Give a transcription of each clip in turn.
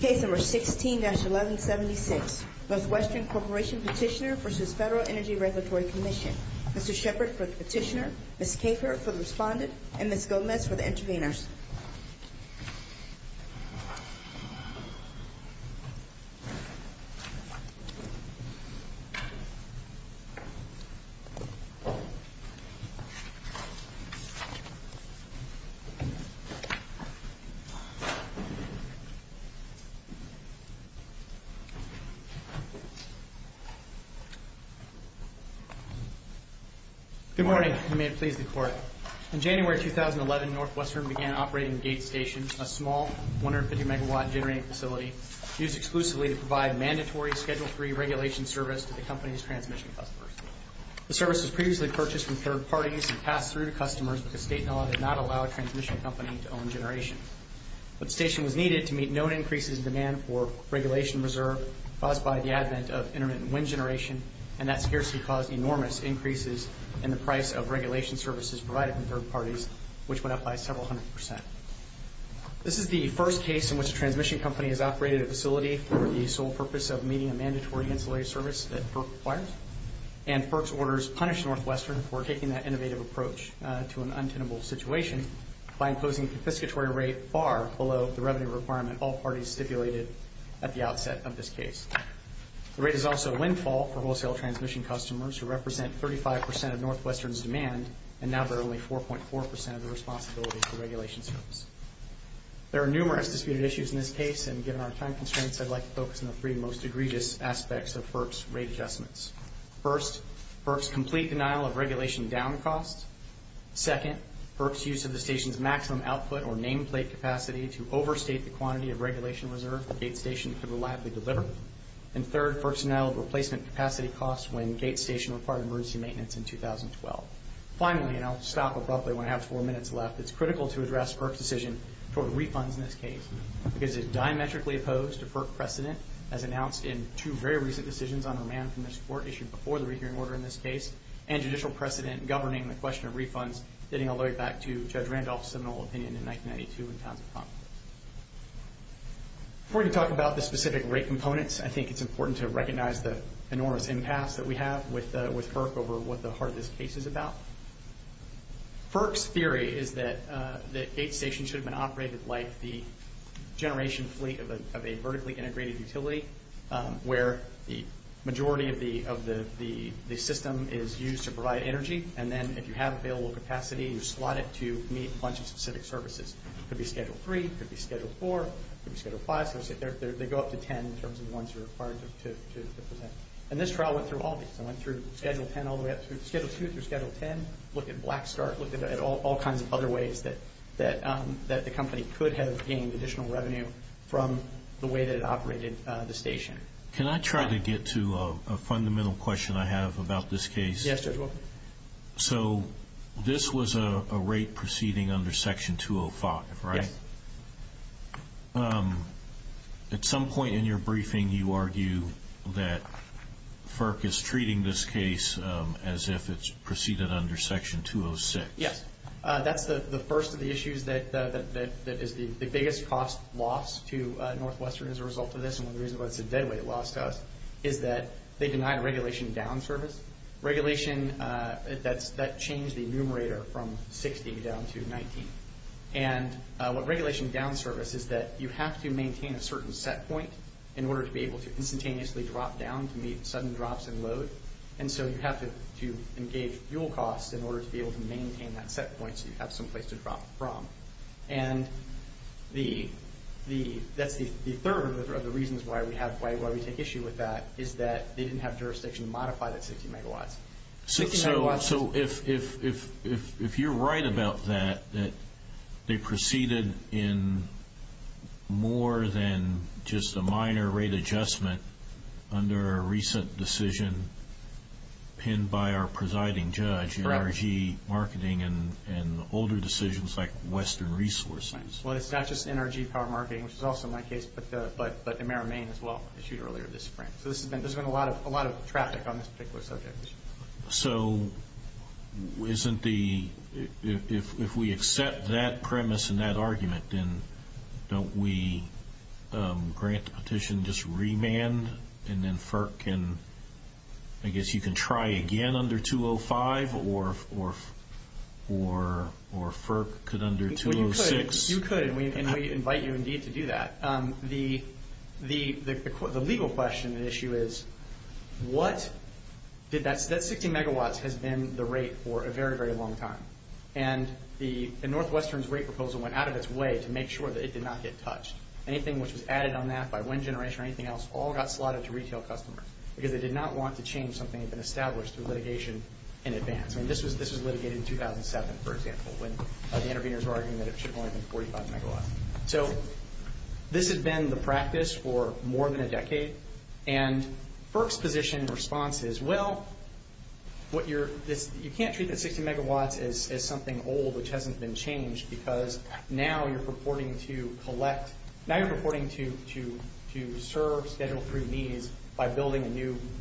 Case No. 16-1176 Northwestern Corporation Petitioner v. Federal Energy Regulatory Commission Mr. Shepard for the petitioner, Ms. Kafer for the respondent, and Ms. Gomez for the interveners Mr. Shepard for the petitioner, Ms. Gomez for the respondent, and Ms. Gomez for the interveners in the room. The first is the regulation that says that there is a need to meet known increases in demand for regulation reserve caused by the advent of intermittent wind generation, and that scarcely caused enormous increases in the price of regulation services provided in third parties, which went up by several hundred percent. This is the first case in which a transmission company has operated a facility for the sole purpose of meeting a mandatory insulated service that PERC requires, and PERC's orders punish Northwestern for taking that innovative approach to an untenable situation by imposing a confiscatory rate far below the revenue requirement all parties stipulated at the outset of this case. The rate is also windfall for wholesale transmission customers, who represent 35 percent of Northwestern's demand, and now bear only 4.4 percent of the responsibility for regulation service. There are numerous disputed issues in this case, and given our time constraints, I'd like to focus on the three most egregious aspects of PERC's rate adjustments. First, PERC's complete denial of regulation down cost. Second, PERC's use of the station's maximum output, or nameplate capacity, to overstate the quantity of regulation reserve the gate station could reliably deliver. And third, PERC's denial of replacement capacity costs when gate station required emergency maintenance in 2012. Finally, and I'll stop abruptly when I have four minutes left, it's critical to address PERC's decision toward refunds in this case, because it is diametrically opposed to PERC precedent, as announced in two very recent decisions on remand from this Court issued before the rehearing order in this case, and judicial precedent governing the question of refunds, getting all the way back to Judge Randolph's seminal opinion in 1992 in Townsend Conference. Before we talk about the specific rate components, I think it's important to recognize the enormous impasse that we have with PERC over what the heart of this case is about. PERC's theory is that the gate station should have been operated like the generation fleet of a vertically integrated utility, where the majority of the system is used to provide energy, and then if you have available capacity, you slot it to meet a bunch of specific services. It could be Schedule 3, it could be Schedule 4, it could be Schedule 5, so they go up to 10 in terms of the ones you're required to present. And this trial went through all of these. It went through Schedule 10 all the way up through Schedule 2, through Schedule 10, looked at Blackstart, looked at all kinds of other ways that the company could have gained additional revenue from the way that it operated the station. Can I try to get to a fundamental question I have about this case? Yes, Judge Wilk. So this was a rate proceeding under Section 205, right? Yes. At some point in your briefing, you argue that PERC is treating this case as if it's proceeded under Section 206. Yes. That's the first of the issues that is the biggest cost loss to Northwestern as a result of this, and one of the reasons why it's a deadweight loss to us is that they denied a regulation down service. Regulation that changed the numerator from 60 down to 19. And what regulation down service is that you have to maintain a certain set point in order to be able to instantaneously drop down to meet sudden drops in load, and so you have to engage fuel costs in order to be able to maintain that set point so you have some place to drop from. And that's the third of the reasons why we take issue with that, is that they didn't have jurisdiction to modify that 60 megawatts. So if you're right about that, that they proceeded in more than just a minor rate adjustment under a recent decision pinned by our presiding judge, NRG marketing and older decisions like Western Resources. Right. Well, it's not just NRG power marketing, which is also my case, but Ameri-Main as well, issued earlier this spring. So there's been a lot of traffic on this particular subject. So isn't the, if we accept that premise and that argument, then don't we grant the petition just remand and then FERC can, I guess you can try again under 205 or FERC could under 206. You could, and we invite you indeed to do that. But the legal question and issue is, what did that, that 60 megawatts has been the rate for a very, very long time. And the Northwestern's rate proposal went out of its way to make sure that it did not get touched. Anything which was added on that by Wind Generation or anything else all got slotted to retail customers because they did not want to change something that had been established through litigation in advance. I mean, this was litigated in 2007, for example, when the interveners were arguing that it should have only been 45 megawatts. So this had been the practice for more than a decade. And FERC's position and response is, well, what you're, you can't treat the 60 megawatts as something old which hasn't been changed because now you're purporting to collect, now you're purporting to serve Schedule 3 needs by building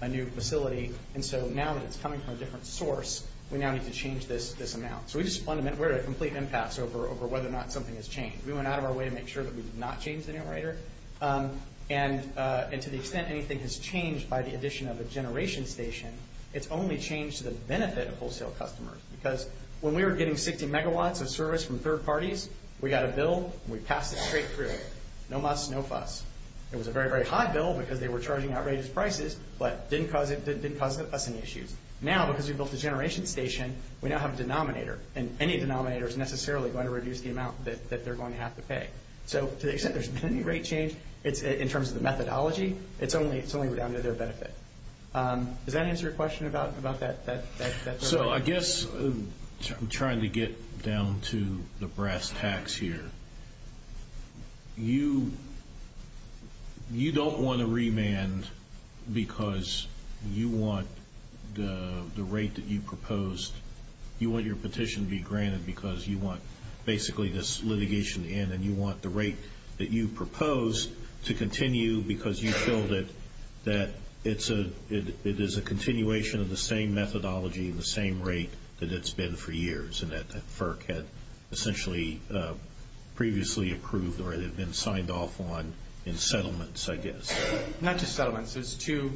a new facility. And so now that it's coming from a different source, we now need to change this amount. So we just fundamentally, we're at a complete impasse over whether or not something has gone out of our way to make sure that we did not change the numerator. And to the extent anything has changed by the addition of a generation station, it's only changed to the benefit of wholesale customers. Because when we were getting 60 megawatts of service from third parties, we got a bill and we passed it straight through. No muss, no fuss. It was a very, very high bill because they were charging outrageous prices but didn't cause us any issues. Now because we built a generation station, we now have a denominator and any denominator is necessarily going to reduce the amount that they're going to have to pay. So to the extent there's been any rate change, in terms of the methodology, it's only down to their benefit. Does that answer your question about that? So I guess I'm trying to get down to the brass tacks here. You don't want to remand because you want the rate that you proposed, you want your because you want basically this litigation in and you want the rate that you proposed to continue because you feel that it is a continuation of the same methodology and the same rate that it's been for years and that FERC had essentially previously approved or it had been signed off on in settlements, I guess. Not just settlements. It's two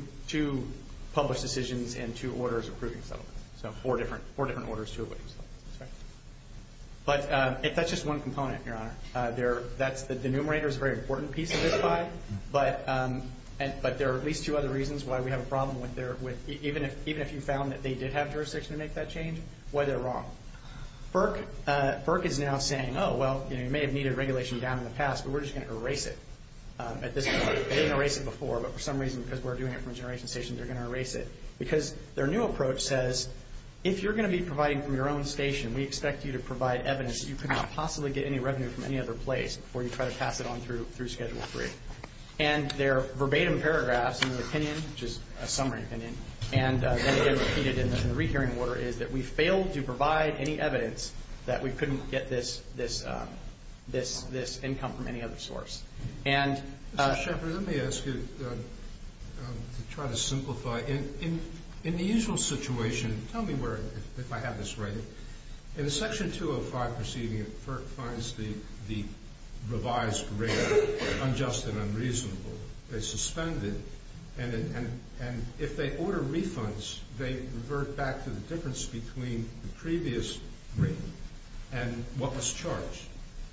published decisions and two orders approving settlements. So four different orders to approve settlements. But that's just one component, Your Honor. That's the denominator is a very important piece of this pie but there are at least two other reasons why we have a problem with even if you found that they did have jurisdiction to make that change, why they're wrong. FERC is now saying, oh, well, you may have needed regulation down in the past but we're just going to erase it at this point. They didn't erase it before but for some reason because we're doing it from a generation station, they're going to erase it because their new approach says, if you're going to be providing from your own station, we expect you to provide evidence that you could not possibly get any revenue from any other place before you try to pass it on through Schedule 3. And their verbatim paragraphs in their opinion, which is a summary opinion, and then they repeated in the rehearing order is that we failed to provide any evidence that we couldn't get this income from any other source. Mr. Shepherd, let me ask you to try to simplify. In the usual situation, tell me where, if I have this right, in the Section 205 proceeding, FERC finds the revised rate unjust and unreasonable. They suspend it and if they order refunds, they revert back to the difference between the previous rate and what was charged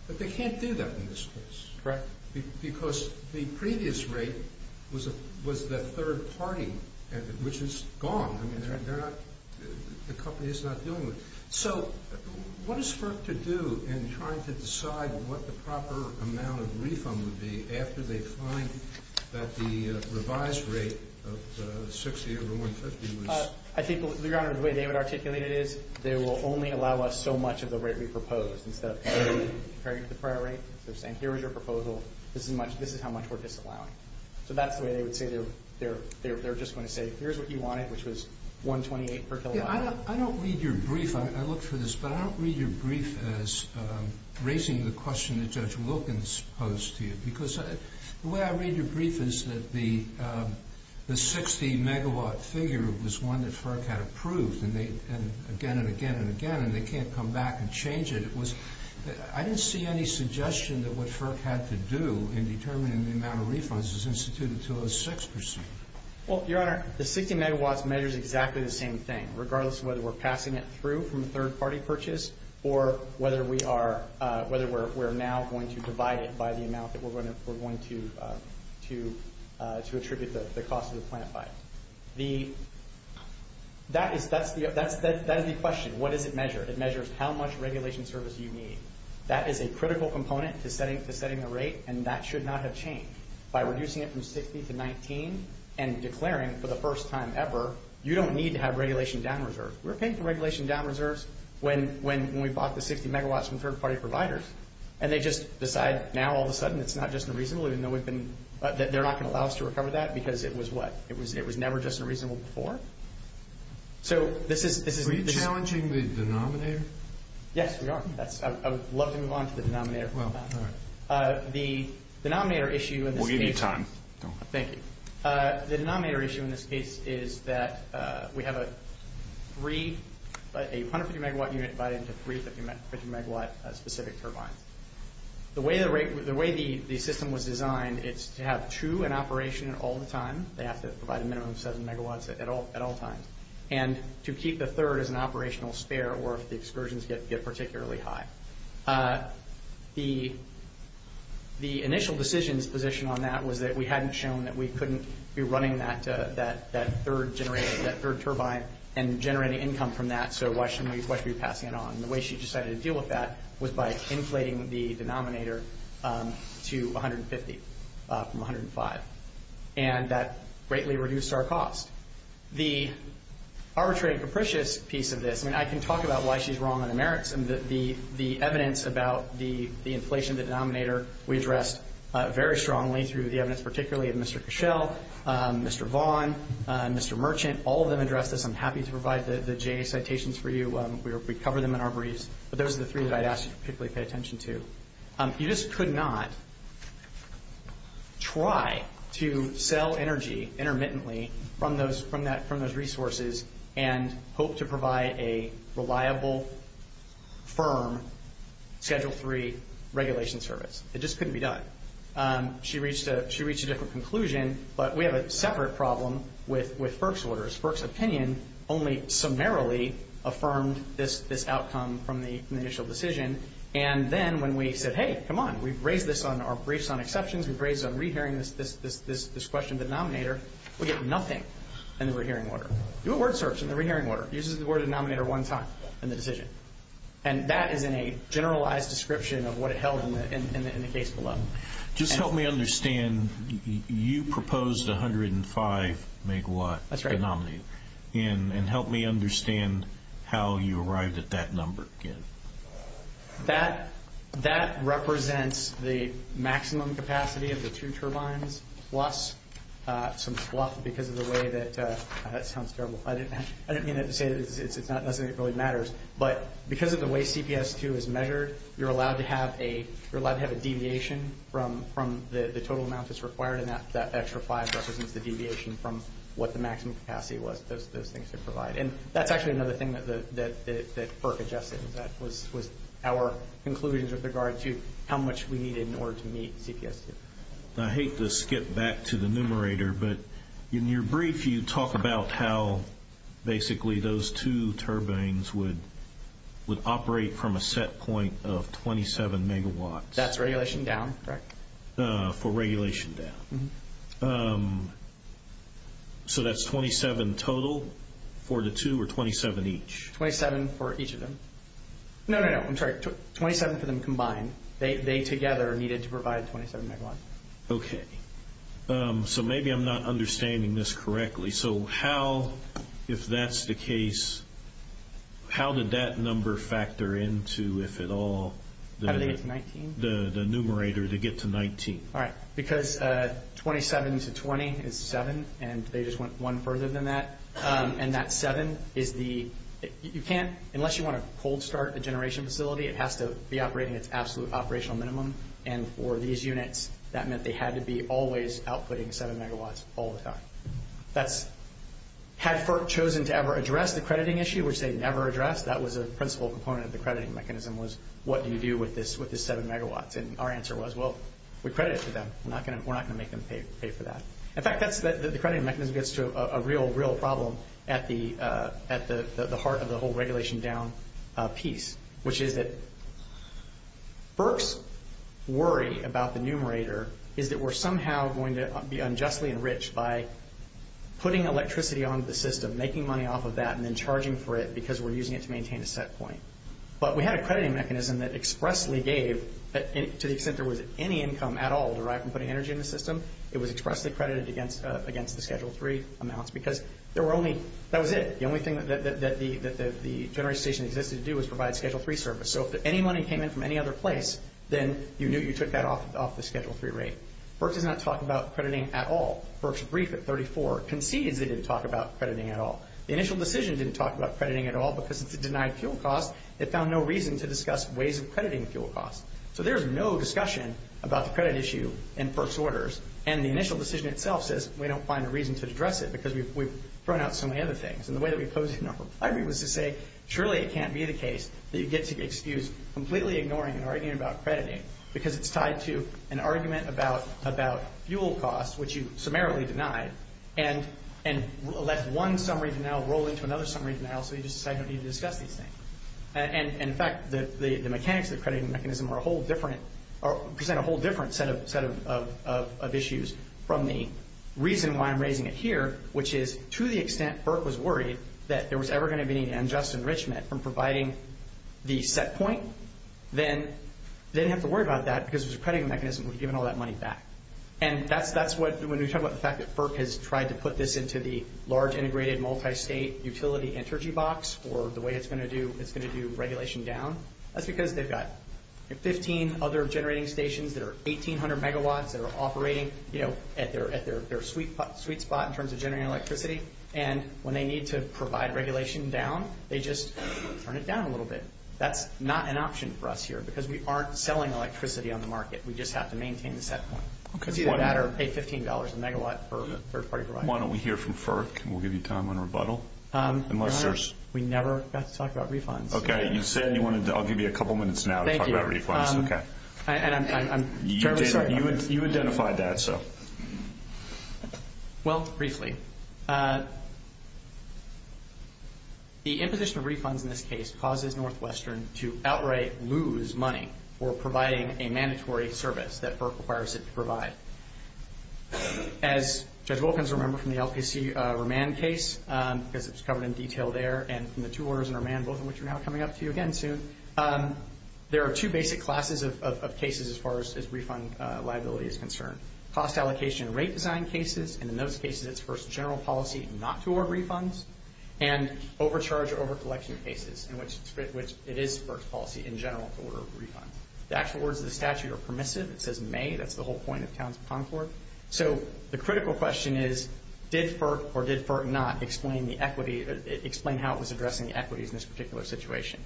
but they can't do that in this case. Correct. Because the previous rate was the third party, which is gone, I mean, they're not, the company is not dealing with it. So what is FERC to do in trying to decide what the proper amount of refund would be after they find that the revised rate of 60 over 150 was... I think, Your Honor, the way David articulated it is, they will only allow us so much of the rate we proposed. Instead of comparing it to the prior rate, they're saying, here is your proposal, this is how much we're disallowing. So that's the way they would say, they're just going to say, here's what you wanted, which was 128 per kilowatt hour. I don't read your brief, I looked for this, but I don't read your brief as raising the question that Judge Wilkins posed to you because the way I read your brief is that the 60 megawatt figure was one that FERC had approved and again and again and again and they can't come back and change it. It was... I didn't see any suggestion that what FERC had to do in determining the amount of refunds is instituted to a six percent. Well, Your Honor, the 60 megawatts measures exactly the same thing, regardless of whether we're passing it through from a third party purchase or whether we are, whether we're now going to divide it by the amount that we're going to attribute the cost of the plant by. That is the question. What does it measure? It measures how much regulation service you need. That is a critical component to setting the rate and that should not have changed. By reducing it from 60 to 19 and declaring for the first time ever, you don't need to have regulation down-reserves. We're paying for regulation down-reserves when we bought the 60 megawatts from third party providers and they just decide now all of a sudden it's not just unreasonable even though we've been... They're not going to allow us to recover that because it was what? It was never just unreasonable before? So this is... Are we challenging the denominator? Yes, we are. I would love to move on to the denominator for a moment. The denominator issue in this case... We'll give you time. Go ahead. Thank you. The denominator issue in this case is that we have a 150 megawatt unit divided into three 50 megawatt specific turbines. The way the system was designed, it's to have two in operation at all the time. They have to provide a minimum of seven megawatts at all times. And to keep the third as an operational spare or if the excursions get particularly high. The initial decision's position on that was that we hadn't shown that we couldn't be running that third generator, that third turbine, and generating income from that, so why should we be passing it on? The way she decided to deal with that was by inflating the denominator to 150 from 105. And that greatly reduced our cost. The arbitrary and capricious piece of this, I can talk about why she's wrong on the merits and the evidence about the inflation of the denominator, we addressed very strongly through the evidence, particularly of Mr. Cashel, Mr. Vaughn, Mr. Merchant. All of them addressed this. I'm happy to provide the J citations for you. We cover them in our briefs. But those are the three that I'd ask you to particularly pay attention to. You just could not try to sell energy intermittently from those resources and hope to provide a reliable firm Schedule III regulation service. It just couldn't be done. She reached a different conclusion, but we have a separate problem with FERC's orders. FERC's opinion only summarily affirmed this outcome from the initial decision. And then when we said, hey, come on, we've raised this on our briefs on exceptions, we've raised it on re-hearing this question of the denominator, we get nothing in the re-hearing order. Do a word search in the re-hearing order. Use the word denominator one time in the decision. And that is in a generalized description of what it held in the case below. Just help me understand. You proposed 105 megawatt denominator. And help me understand how you arrived at that number again. That represents the maximum capacity of the two turbines plus some fluff because of the way that, that sounds terrible, I didn't mean it to say that it doesn't really matter. But because of the way CPS2 is measured, you're allowed to have a deviation from the total amount that's required. And that extra five represents the deviation from what the maximum capacity was. Those things are provided. And that's actually another thing that FERC adjusted. That was our conclusions with regard to how much we needed in order to meet CPS2. I hate to skip back to the numerator, but in your brief, you talk about how basically those two turbines would operate from a set point of 27 megawatts. That's regulation down, correct? For regulation down. So that's 27 total for the two, or 27 each? 27 for each of them. No, no, no, I'm sorry, 27 for them combined. They together needed to provide 27 megawatts. Okay. So maybe I'm not understanding this correctly. So how, if that's the case, how did that number factor into, if at all, the numerator to get to 19? All right. Because 27 to 20 is 7, and they just went one further than that. And that 7 is the, you can't, unless you want to cold start the generation facility, it has to be operating at its absolute operational minimum. And for these units, that meant they had to be always outputting 7 megawatts all the time. Had FERC chosen to ever address the crediting issue, which they never addressed, that was a principal component of the crediting mechanism was, what do you do with this 7 megawatts? And our answer was, well, we credit it to them. We're not going to make them pay for that. In fact, the crediting mechanism gets to a real, real problem at the heart of the whole regulation down piece, which is that FERC's worry about the numerator is that we're somehow going to be unjustly enriched by putting electricity onto the system, making money off of that, and then charging for it because we're using it to maintain a set point. But we had a crediting mechanism that expressly gave, to the extent there was any income at all derived from putting energy in the system, it was expressly credited against the Schedule 3 amounts because there were only, that was it. The only thing that the generation station existed to do was provide Schedule 3 service. So if any money came in from any other place, then you knew you took that off the Schedule 3 rate. FERC does not talk about crediting at all. FERC's brief at 34 concedes they didn't talk about crediting at all. The initial decision didn't talk about crediting at all because it's a denied fuel cost. It found no reason to discuss ways of crediting fuel costs. So there's no discussion about the credit issue in FERC's orders. And the initial decision itself says we don't find a reason to address it because we've thrown out so many other things. And the way that we pose it in our reply was to say, surely it can't be the case that you get to be excused completely ignoring and arguing about crediting because it's tied to an argument about fuel costs, which you summarily denied, and let one summary denial roll into another summary denial so you just decide you don't need to discuss these things. And in fact, the mechanics of the crediting mechanism are a whole different, present a whole different set of issues from the reason why I'm raising it here, which is to the extent FERC was worried that there was ever going to be any unjust enrichment from providing the set point, then they didn't have to worry about that because there's a crediting mechanism we've given all that money back. And that's what when we talk about the fact that FERC has tried to put this into the large integrated multi-state utility energy box or the way it's going to do regulation down, that's because they've got 15 other generating stations that are 1800 megawatts that are operating at their sweet spot in terms of generating electricity. And when they need to provide regulation down, they just turn it down a little bit. That's not an option for us here because we aren't selling electricity on the market. We just have to maintain the set point. Because either that or pay $15 a megawatt for a third-party provider. Why don't we hear from FERC and we'll give you time on rebuttal, unless there's... We never got to talk about refunds. Okay. You said you wanted to... I'll give you a couple minutes now to talk about refunds. Thank you. Okay. And I'm terribly sorry. You identified that, so... Well, briefly, the imposition of refunds in this case causes Northwestern to outright lose money for providing a mandatory service that FERC requires it to provide. As Judge Wilkins remembered from the LPC remand case, because it was covered in detail there and from the two orders in remand, both of which are now coming up to you again soon, there are two basic classes of cases as far as refund liability is concerned. Cost allocation rate design cases, and in those cases, it's first general policy not to order refunds. And overcharge or overcollection cases, in which it is FERC's policy in general to order refunds. The actual words of the statute are permissive. It says may. That's the whole point of Townsend-Concord. So the critical question is, did FERC or did FERC not explain the equity... Explain how it was addressing the equities in this particular situation?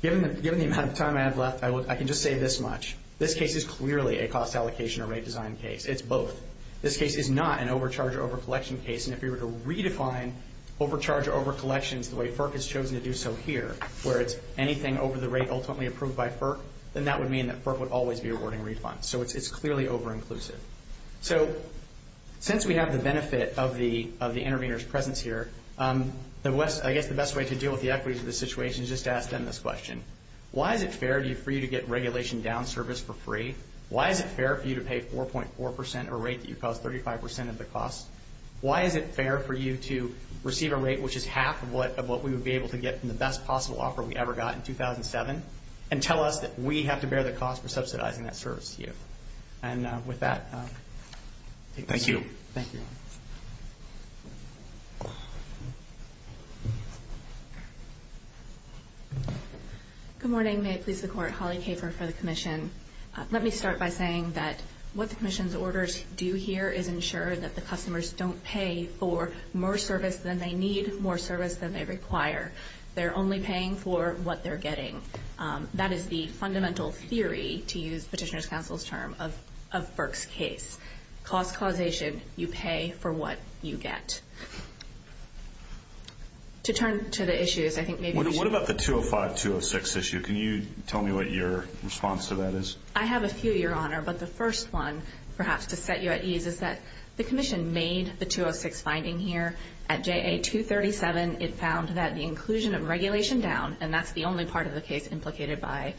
Given the amount of time I have left, I can just say this much. This case is clearly a cost allocation or rate design case. It's both. This case is not an overcharge or overcollection case, and if we were to redefine overcharge or overcollections the way FERC has chosen to do so here, where it's anything over the rate ultimately approved by FERC, then that would mean that FERC would always be awarding refunds. So it's clearly overinclusive. So since we have the benefit of the intervener's presence here, I guess the best way to deal with the equities of this situation is just to ask them this question. Why is it fair for you to get regulation down service for free? Why is it fair for you to pay 4.4% of a rate that you cost 35% of the cost? Why is it fair for you to receive a rate which is half of what we would be able to get from the best possible offer we ever got in 2007, and tell us that we have to bear the cost for subsidizing that service to you? And with that, I'll take this. Thank you. Thank you. Good morning. May it please the Court. Holly Kafer for the Commission. Let me start by saying that what the Commission's orders do here is ensure that the customers don't pay for more service than they need, more service than they require. They're only paying for what they're getting. That is the fundamental theory, to use Petitioner's Counsel's term, of FERC's case. Cost causation, you pay for what you get. To turn to the issues, I think maybe we should... What about the 205-206 issue? Can you tell me what your response to that is? I have a few, Your Honor, but the first one, perhaps to set you at ease, is that the Commission made the 206 finding here at JA-237. It found that the inclusion of regulation down, and that's the only part of the case implicated by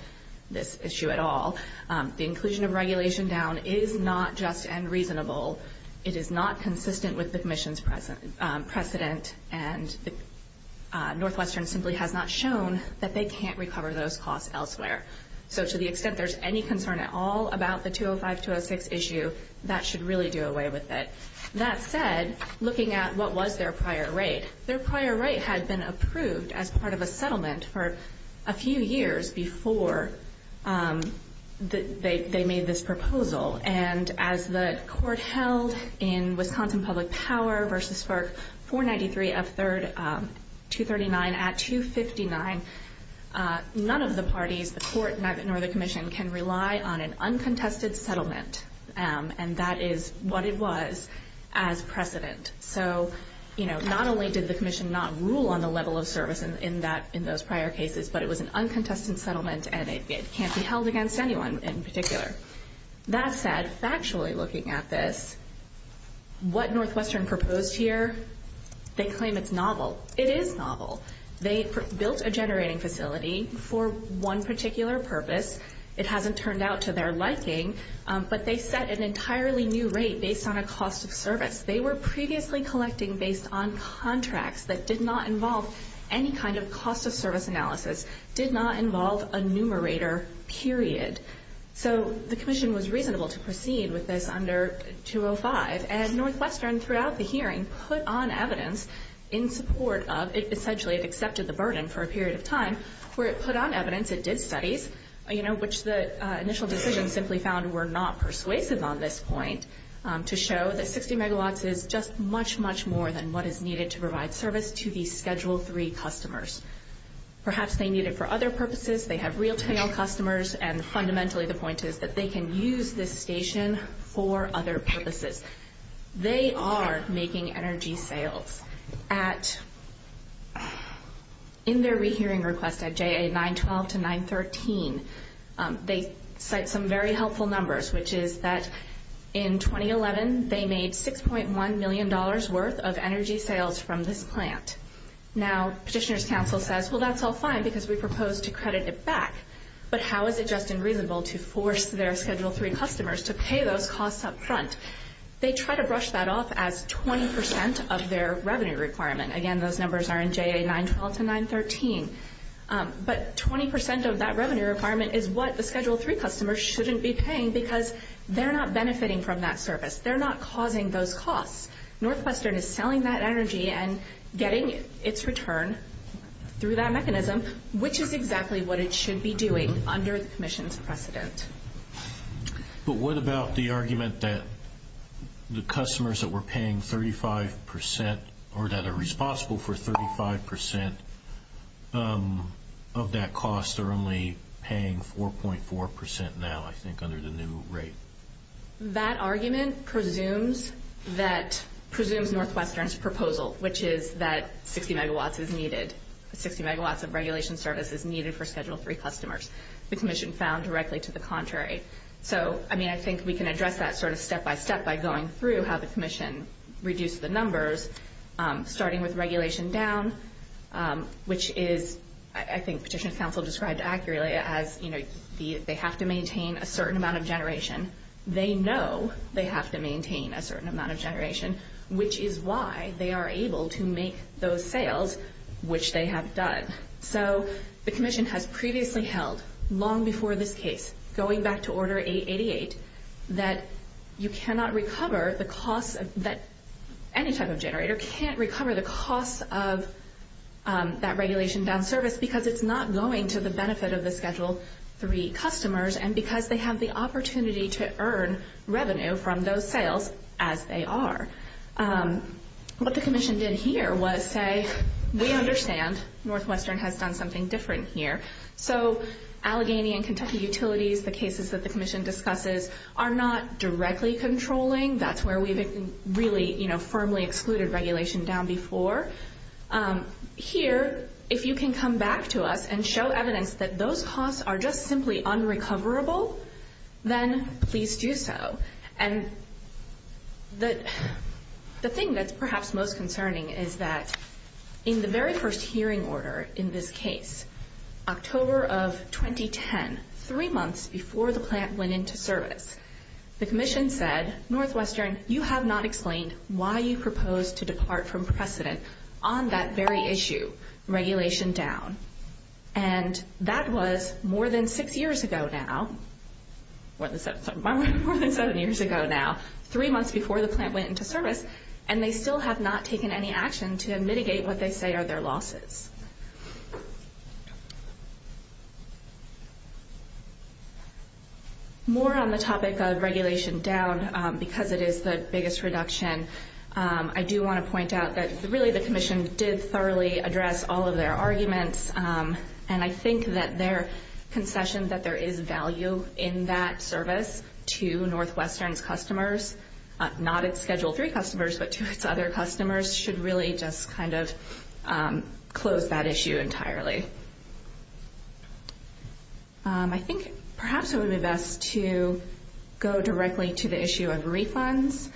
this issue at all, the inclusion of regulation down is not just and reasonable. It is not consistent with the Commission's precedent, and Northwestern simply has not shown that they can't recover those costs elsewhere. So to the extent there's any concern at all about the 205-206 issue, that should really do away with it. That said, looking at what was their prior rate, their prior rate had been approved as part of a settlement for a few years before they made this proposal. And as the Court held in Wisconsin Public Power v. FERC 493 of 239 at 259, none of the parties, the Court, nor the Commission, can rely on an uncontested settlement. And that is what it was as precedent. So not only did the Commission not rule on the level of service in those prior cases, but it was an uncontested settlement, and it can't be held against anyone in particular. That said, factually looking at this, what Northwestern proposed here, they claim it's novel. It is novel. They built a generating facility for one particular purpose. It hasn't turned out to their liking, but they set an entirely new rate based on a cost of service. They were previously collecting based on contracts that did not involve any kind of cost of service analysis, did not involve a numerator, period. So the Commission was reasonable to proceed with this under 205, and Northwestern throughout the hearing put on evidence in support of, essentially it accepted the burden for a period of time, where it put on evidence, it did studies, which the initial decision simply found were not persuasive on this point, to show that 60 megawatts is just much, much more than what is needed to provide service to the Schedule III customers. Perhaps they need it for other purposes, they have real tail customers, and fundamentally the point is that they can use this station for other purposes. They are making energy sales at, in their rehearing request at JA 912 to 913, they cite some very helpful numbers, which is that in 2011 they made $6.1 million worth of energy sales from this plant. Now Petitioner's Council says, well that's all fine because we propose to credit it back, but how is it just unreasonable to force their Schedule III customers to pay those costs up front? They try to brush that off as 20% of their revenue requirement, again those numbers are in JA 912 to 913, but 20% of that revenue requirement is what the Schedule III customers shouldn't be paying because they're not benefiting from that service, they're not causing those costs. Northwestern is selling that energy and getting its return through that mechanism, which is exactly what it should be doing under the Commission's precedent. But what about the argument that the customers that were paying 35%, or that are responsible for 35% of that cost are only paying 4.4% now, I think, under the new rate? That argument presumes Northwestern's proposal, which is that 60 megawatts is needed, 60 megawatts of regulation service is needed for Schedule III customers. The Commission found directly to the contrary. So I think we can address that sort of step-by-step by going through how the Commission reduced the numbers, starting with regulation down, which is, I think Petitioner's Council described accurately as, you know, they have to maintain a certain amount of generation. They know they have to maintain a certain amount of generation, which is why they are able to make those sales, which they have done. So the Commission has previously held, long before this case, going back to Order 888, that you cannot recover the costs, that any type of generator can't recover the costs of that regulation down service because it's not going to the benefit of the Schedule III customers and because they have the opportunity to earn revenue from those sales, as they are. What the Commission did here was say, we understand Northwestern has done something different here. So Allegheny and Kentucky Utilities, the cases that the Commission discusses, are not directly controlling. That's where we've really, you know, firmly excluded regulation down before. Here, if you can come back to us and show evidence that those costs are just simply unrecoverable, then please do so. And the thing that's perhaps most concerning is that in the very first hearing order in this case, October of 2010, three months before the plant went into service, the Commission said, Northwestern, you have not explained why you proposed to depart from precedent on that very issue, regulation down. And that was more than six years ago now, more than seven years ago now, three months before the plant went into service, and they still have not taken any action to mitigate what they say are their losses. More on the topic of regulation down, because it is the biggest reduction, I do want to point out that really the Commission did thoroughly address all of their arguments, and I think that their concession that there is value in that service to Northwestern's customers, not its Schedule III customers, but to its other customers, should really just kind of close that issue entirely. I think perhaps it would be best to go directly to the issue of refunds.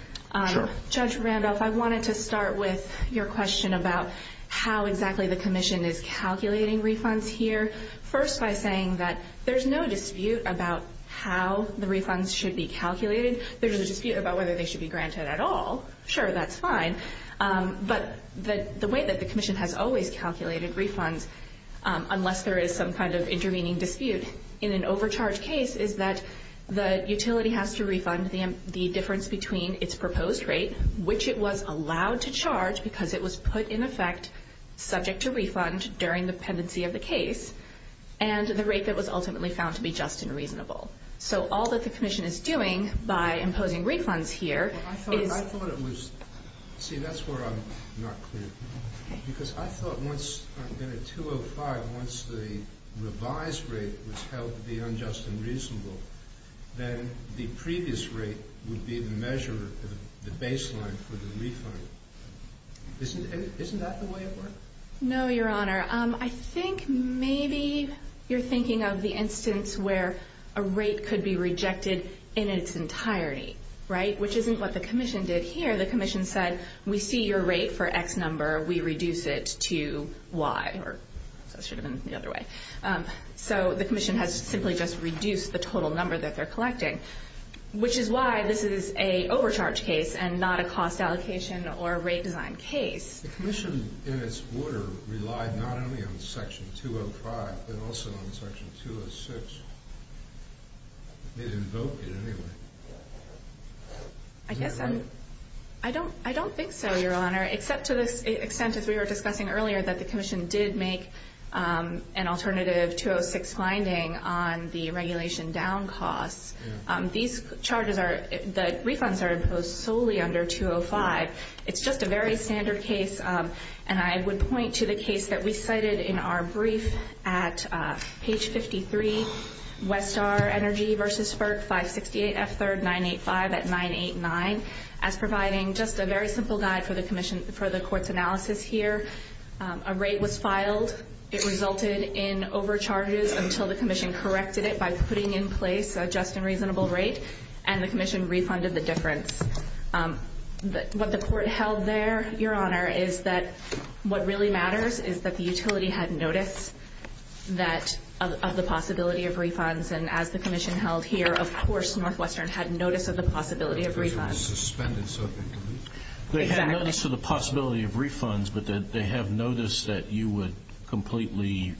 Sure. Judge Randolph, I wanted to start with your question about how exactly the Commission is calculating refunds here, first by saying that there's no dispute about how the refunds should be calculated. There's a dispute about whether they should be granted at all. Sure, that's fine. But the way that the Commission has always calculated refunds, unless there is some kind of intervening dispute in an overcharged case, is that the utility has to refund the difference between its proposed rate, which it was allowed to charge because it was put in effect subject to refund during the pendency of the case, and the rate that was ultimately found to be just and reasonable. So all that the Commission is doing by imposing refunds here is... I thought it was... See, that's where I'm not clear. Because I thought once... I've been at 205. Once the revised rate was held to be unjust and reasonable, then the previous rate would be the measure, the baseline for the refund. Isn't that the way it works? No, Your Honor. I think maybe you're thinking of the instance where a rate could be rejected in its entirety, right? Which isn't what the Commission did here. The Commission said, we see your rate for X number. We reduce it to Y, or that should have been the other way. So the Commission has simply just reduced the total number that they're collecting, which is why this is an overcharged case and not a cost allocation or a rate design case. The Commission, in its order, relied not only on Section 205, but also on Section 206. It invoked it anyway. I guess I'm... I don't think so, Your Honor, except to the extent, as we were discussing earlier, that the Commission did make an alternative 206 finding on the regulation down costs. These charges are... The refunds are imposed solely under 205. It's just a very standard case, and I would point to the case that we cited in our brief at page 53, Westar Energy v. Sperk, 568 F3rd 985 at 989, as providing just a very simple guide for the Court's analysis here. A rate was filed. It resulted in overcharges until the Commission corrected it by putting in place a just and reasonable rate, and the Commission refunded the difference. What the Court held there, Your Honor, is that what really matters is that the utility had notice of the possibility of refunds, and as the Commission held here, of course, Northwestern had notice of the possibility of refunds. Suspended, so to speak. Exactly. They had notice of the possibility of refunds, but that they have noticed that you would completely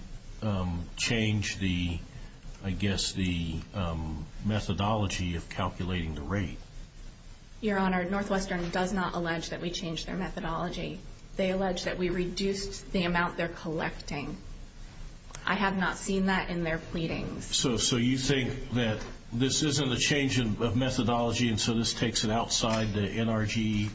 change the, I guess, the methodology of calculating the rate. Your Honor, Northwestern does not allege that we changed their methodology. They allege that we reduced the amount they're collecting. I have not seen that in their pleadings. So you think that this isn't a change of methodology, and so this takes it outside the NRG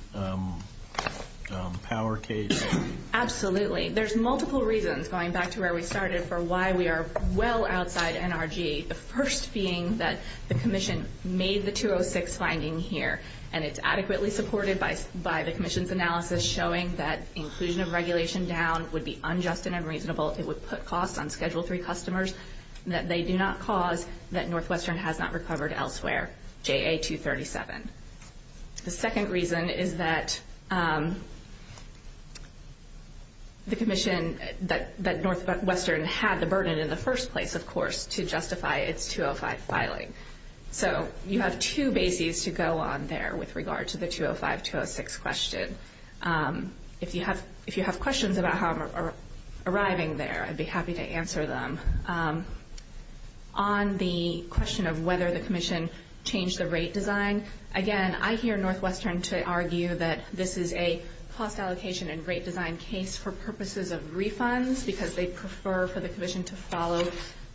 power case? Absolutely. There's multiple reasons, going back to where we started, for why we are well outside NRG. The first being that the Commission made the 206 finding here, and it's adequately supported by the Commission's analysis showing that inclusion of regulation down would be unjust and unreasonable. It would put costs on Schedule 3 customers that they do not cause, that Northwestern has not recovered elsewhere, JA-237. The second reason is that the Commission, that Northwestern had the burden in the first place, of course, to justify its 205 filing. So you have two bases to go on there with regard to the 205-206 question. If you have questions about how I'm arriving there, I'd be happy to answer them. On the question of whether the Commission changed the rate design, again, I hear Northwestern to argue that this is a cost allocation and rate design case for purposes of refunds, because they prefer for the Commission to follow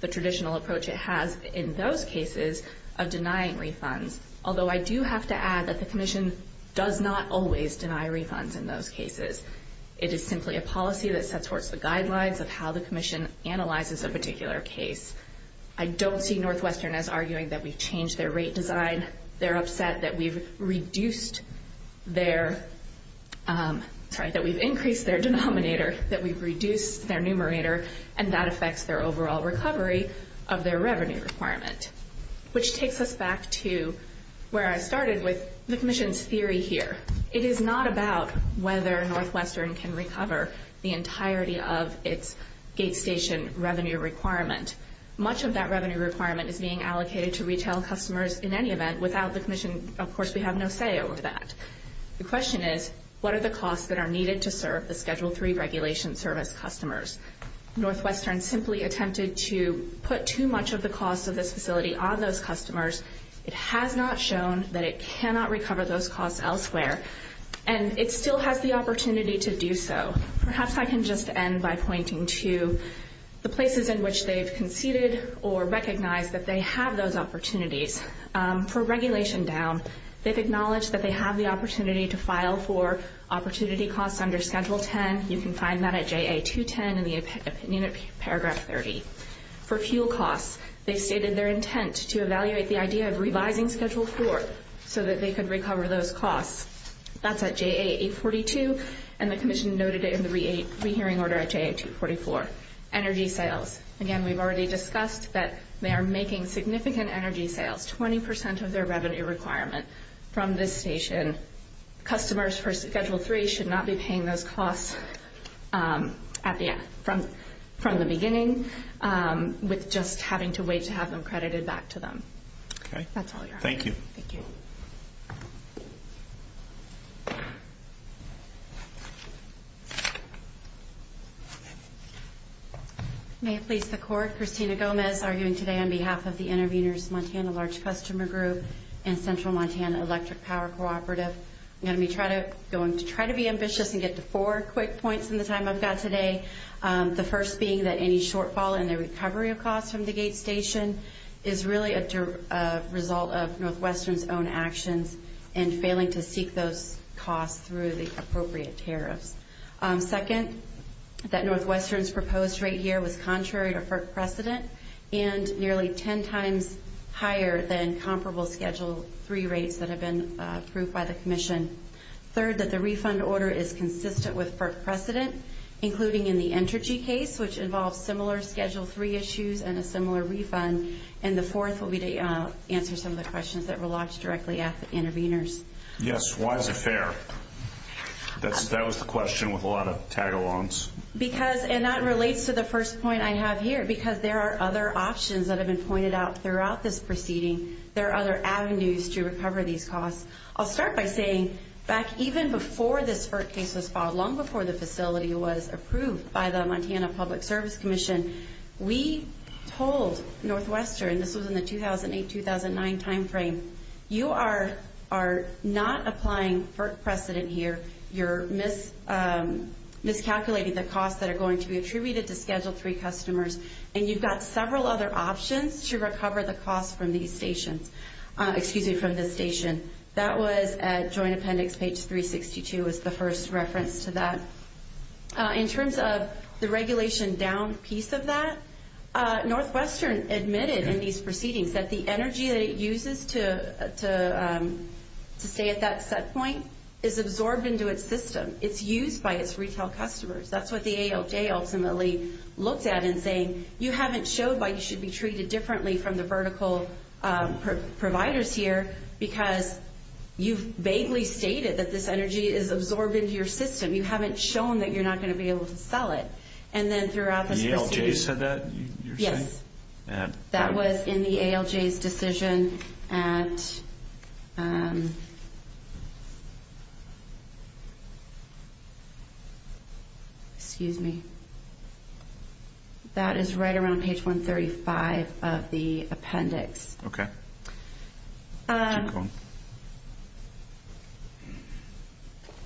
the traditional approach it has in those cases of denying refunds, although I do have to add that the Commission does not always deny refunds in those cases. It is simply a policy that sets forth the guidelines of how the Commission analyzes a particular case. I don't see Northwestern as arguing that we've changed their rate design. They're upset that we've reduced their, sorry, that we've increased their denominator, that we've reduced their numerator, and that affects their overall recovery of their revenue requirement, which takes us back to where I started with the Commission's theory here. It is not about whether Northwestern can recover the entirety of its gate station revenue requirement. Much of that revenue requirement is being allocated to retail customers in any event. Without the Commission, of course, we have no say over that. The question is, what are the costs that are needed to serve the Schedule III Regulation Service customers? Northwestern simply attempted to put too much of the cost of this facility on those customers. It has not shown that it cannot recover those costs elsewhere, and it still has the opportunity to do so. Perhaps I can just end by pointing to the places in which they've conceded or recognized that they have those opportunities. For regulation down, they've acknowledged that they have the opportunity to file for opportunity costs under Schedule X. You can find that at JA210 in the opinion of Paragraph 30. For fuel costs, they stated their intent to evaluate the idea of revising Schedule IV so that they could recover those costs. That's at JA842, and the Commission noted it in the rehearing order at JA244. Energy sales. Again, we've already discussed that they are making significant energy sales, 20 percent of their revenue requirement, from this station. Customers for Schedule III should not be paying those costs from the beginning with just having to wait to have them credited back to them. Okay. That's all your honor. Thank you. Thank you. May it please the Court, Christina Gomez arguing today on behalf of the Interveners Montana Large Customer Group and Central Montana Electric Power Cooperative, I'm going to try to be ambitious and get to four quick points in the time I've got today. The first being that any shortfall in the recovery of costs from the gate station is really a result of Northwestern's own actions and failing to seek those costs through the appropriate tariffs. Second, that Northwestern's proposed rate here was contrary to FERC precedent and nearly ten times higher than comparable Schedule III rates that have been approved by the Commission. Third, that the refund order is consistent with FERC precedent, including in the energy case, which involves similar Schedule III issues and a similar refund. And the fourth will be to answer some of the questions that were locked directly at the Interveners. Yes. Why is it fair? That was the question with a lot of tag-alongs. And that relates to the first point I have here, because there are other options that have been pointed out throughout this proceeding. There are other avenues to recover these costs. I'll start by saying, back even before this FERC case was filed, long before the facility was approved by the Montana Public Service Commission, we told Northwestern, this was in the 2008-2009 timeframe, you are not applying FERC precedent here. You're miscalculating the costs that are going to be attributed to Schedule III customers. And you've got several other options to recover the costs from these stations, excuse me, from this station. That was at Joint Appendix, page 362, was the first reference to that. In terms of the regulation down piece of that, Northwestern admitted in these proceedings that the energy that it uses to stay at that set point is absorbed into its system. It's used by its retail customers. That's what the ALJ ultimately looked at in saying, you haven't showed why you should be treated differently from the vertical providers here, because you've vaguely stated that this energy is absorbed into your system. You haven't shown that you're not going to be able to sell it. And then throughout this proceeding... Yes. That was in the ALJ's decision at... Excuse me. That is right around page 135 of the appendix. Okay. That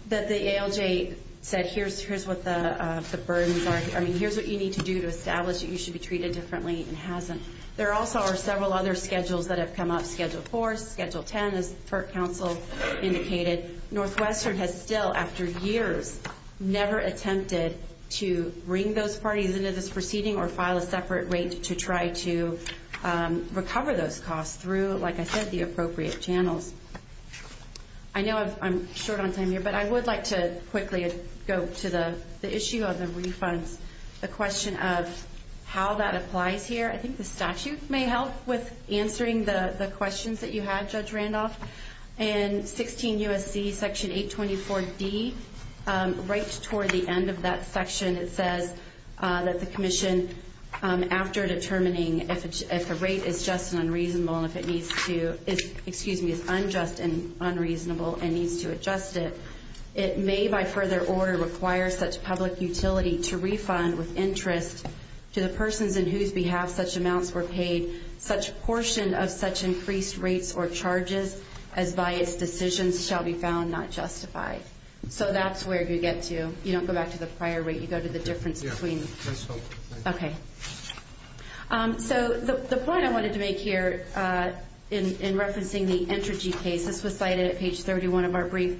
the ALJ said, here's what the burdens are, I mean, here's what you need to do to There also are several other schedules that have come up, Schedule 4, Schedule 10, as FERC counsel indicated. Northwestern has still, after years, never attempted to bring those parties into this proceeding or file a separate rate to try to recover those costs through, like I said, the appropriate channels. I know I'm short on time here, but I would like to quickly go to the issue of the refunds, the question of how that applies here. I think the statute may help with answering the questions that you had, Judge Randolph. And 16 U.S.C. section 824D, right toward the end of that section, it says that the commission, after determining if a rate is just and unreasonable and if it needs to, excuse me, is unjust and unreasonable and needs to adjust it, it may by further order require such public utility to refund with interest to the persons in whose behalf such amounts were paid such portion of such increased rates or charges as by its decisions shall be found not justified. So that's where you get to, you don't go back to the prior rate, you go to the difference between. Okay. So the point I wanted to make here in referencing the Entergy case, this was cited at page 31 of our brief.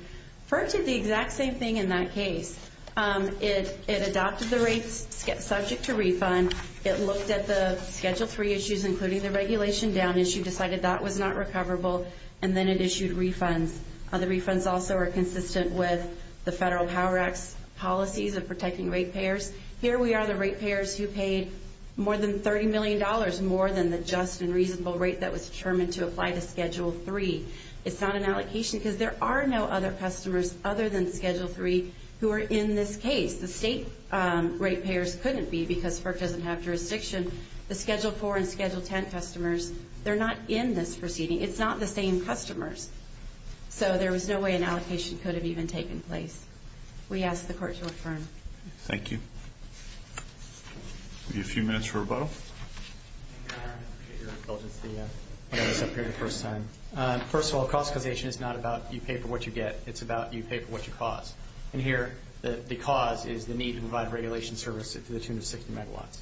FERC did the exact same thing in that case. It adopted the rates subject to refund. It looked at the Schedule 3 issues, including the regulation down issue, decided that was not recoverable, and then it issued refunds. The refunds also are consistent with the Federal Power Act's policies of protecting rate payers. Here we are, the rate payers who paid more than $30 million, more than the just and reasonable rate that was determined to apply to Schedule 3. It's not an allocation because there are no other customers other than Schedule 3 who are in this case. The state rate payers couldn't be because FERC doesn't have jurisdiction. The Schedule 4 and Schedule 10 customers, they're not in this proceeding. It's not the same customers. So there was no way an allocation could have even taken place. We ask the Court to affirm. Thank you. We have a few minutes for rebuttal. Thank you, Your Honor. I appreciate your indulgence to have us up here the first time. First of all, cost causation is not about you pay for what you get. It's about you pay for what you cause. And here, the cause is the need to provide regulation services to the tune of 60 megawatts.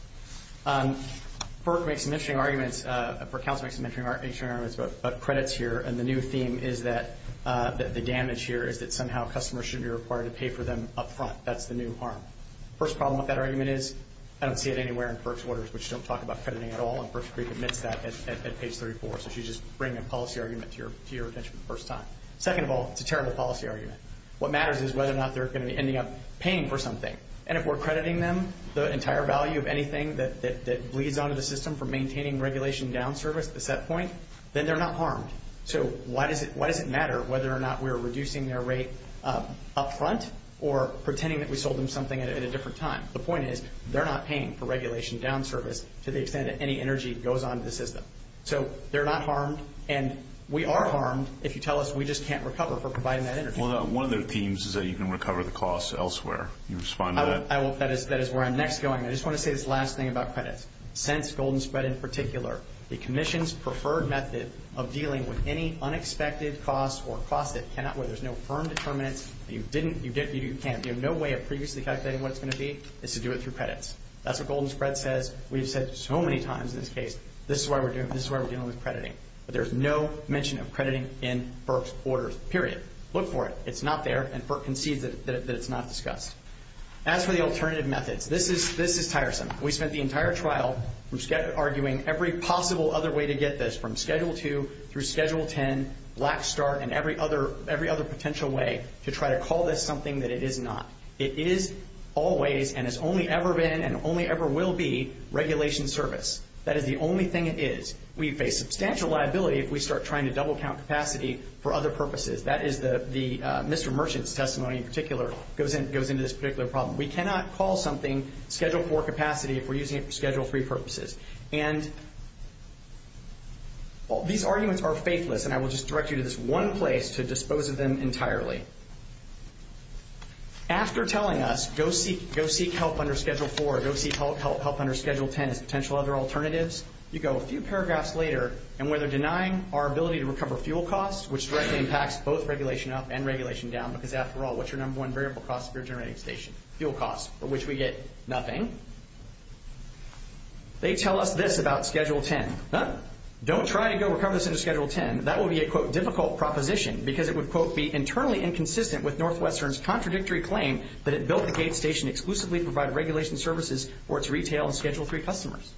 FERC makes some interesting arguments. FERC counsel makes some interesting arguments about credits here, and the new theme is that the damage here is that somehow customers should be required to pay for them up front. That's the new harm. First problem with that argument is I don't see it anywhere in FERC's orders, which don't talk about crediting at all, and FERC admits that at page 34. So she's just bringing a policy argument to your attention for the first time. Second of all, it's a terrible policy argument. What matters is whether or not they're going to be ending up paying for something. And if we're crediting them the entire value of anything that bleeds onto the system for maintaining regulation down service at the set point, then they're not harmed. So why does it matter whether or not we're reducing their rate up front or pretending that we sold them something at a different time? The point is they're not paying for regulation down service to the extent that any energy goes onto the system. So they're not harmed, and we are harmed if you tell us we just can't recover for providing that energy. Well, one of their themes is that you can recover the costs elsewhere. Can you respond to that? I will. That is where I'm next going. I just want to say this last thing about credits. Since Golden Spread in particular, the Commission's preferred method of dealing with any unexpected costs or costs where there's no firm determinants, you can't, you have no way of previously calculating what it's going to be, is to do it through credits. That's what Golden Spread says. We've said so many times in this case, this is why we're dealing with crediting. But there's no mention of crediting in FERC's orders, period. Look for it. It's not there, and FERC concedes that it's not discussed. As for the alternative methods, this is tiresome. We spent the entire trial arguing every possible other way to get this, from Schedule 2 through Schedule 10, Black Star, and every other potential way to try to call this something that it is not. It is always and has only ever been and only ever will be regulation service. That is the only thing it is. We face substantial liability if we start trying to double-count capacity for other purposes. That is the Mr. Merchant's testimony in particular goes into this particular problem. We cannot call something Schedule 4 capacity if we're using it for Schedule 3 purposes. And these arguments are faithless, and I will just direct you to this one place to dispose of them entirely. After telling us, go seek help under Schedule 4, go seek help under Schedule 10 as potential other alternatives, you go a few paragraphs later, and where they're denying our ability to recover fuel costs, which directly impacts both regulation up and regulation down, because after all, what's your number one variable cost if you're generating a station? Fuel costs, for which we get nothing. They tell us this about Schedule 10. Don't try to go recover this under Schedule 10. That will be a, quote, difficult proposition because it would, quote, be internally inconsistent with Northwestern's contradictory claim that it built the gate station exclusively to provide regulation services for its retail and Schedule 3 customers.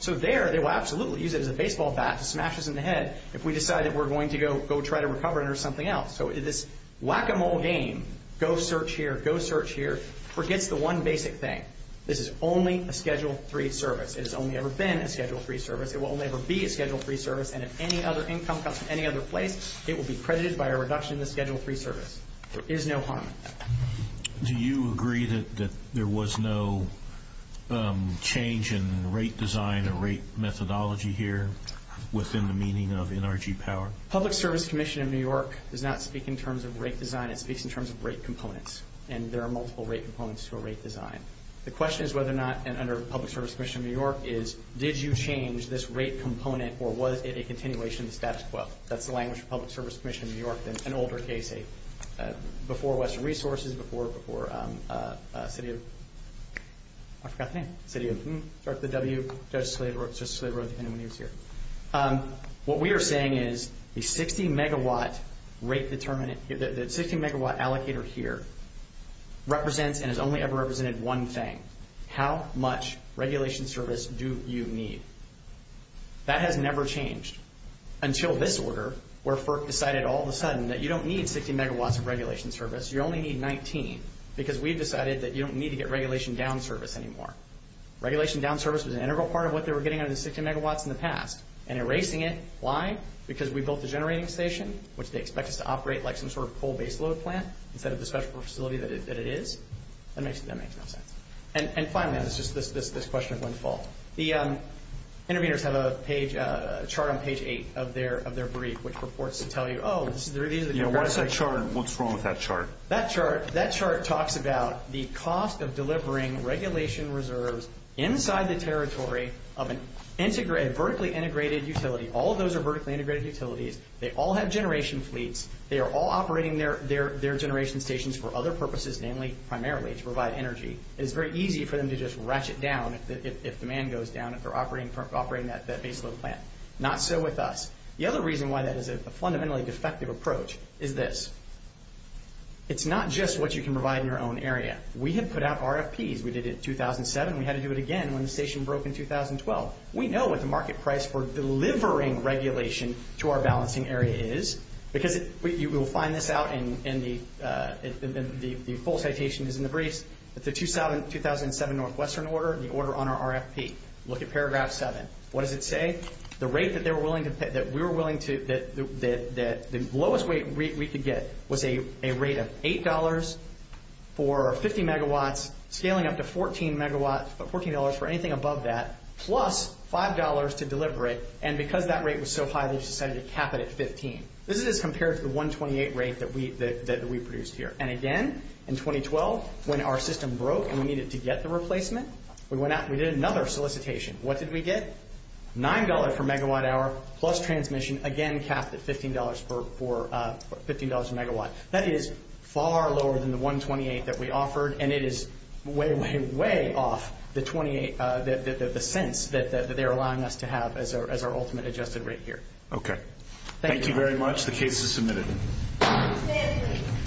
So there, they will absolutely use it as a baseball bat to smash us in the head if we decide that we're going to go try to recover it under something else. So this whack-a-mole game, go search here, go search here, forgets the one basic thing. This is only a Schedule 3 service. It has only ever been a Schedule 3 service. It will only ever be a Schedule 3 service, and if any other income comes from any other place, it will be credited by a reduction in the Schedule 3 service. There is no harm in that. Do you agree that there was no change in rate design or rate methodology here within the meaning of NRG power? Public Service Commission of New York does not speak in terms of rate design. It speaks in terms of rate components, and there are multiple rate components to a rate design. The question is whether or not, and under Public Service Commission of New York is, did you change this rate component, or was it a continuation of the status quo? That's the language of Public Service Commission of New York, an older case before Western Resources, before City of... I forgot the name. City of... Sorry, the W. Justice Scalia wrote it at the end when he was here. What we are saying is the 60-megawatt rate determinant, the 60-megawatt allocator here represents and has only ever represented one thing. How much regulation service do you need? That has never changed until this order where FERC decided all of a sudden that you don't need 60 megawatts of regulation service. You only need 19 because we decided that you don't need to get regulation down service anymore. Regulation down service was an integral part of what they were getting out of the 60 megawatts in the past. And erasing it, why? Because we built the generating station, which they expect us to operate like some sort of coal-based load plant instead of the special facility that it is. That makes no sense. And finally, this question of windfall. The interveners have a chart on page 8 of their brief which purports to tell you... What's wrong with that chart? That chart talks about the cost of delivering regulation reserves inside the territory of a vertically integrated utility. All of those are vertically integrated utilities. They all have generation fleets. They are all operating their generation stations for other purposes, primarily to provide energy. It's very easy for them to just ratchet down if demand goes down, if they're operating that base load plant. Not so with us. The other reason why that is a fundamentally defective approach is this. It's not just what you can provide in your own area. We had put out RFPs. We did it in 2007. We had to do it again when the station broke in 2012. We know what the market price for delivering regulation to our balancing area is because you will find this out in the... The full citation is in the briefs. The 2007 Northwestern order, the order on our RFP. Look at paragraph 7. What does it say? The rate that we were willing to... The lowest rate we could get was a rate of $8 for 50 megawatts, scaling up to $14 for anything above that, plus $5 to deliver it. And because that rate was so high, we decided to cap it at $15. This is compared to the $1.28 rate that we produced here. And again, in 2012, when our system broke and we needed to get the replacement, we went out and we did another solicitation. What did we get? $9 for megawatt hour, plus transmission. Again, capped at $15 for... $15 a megawatt. That is far lower than the $1.28 that we offered, and it is way, way, way off the $0.28 that they're allowing us to have as our ultimate adjusted rate here. Okay. Thank you very much. The case is submitted.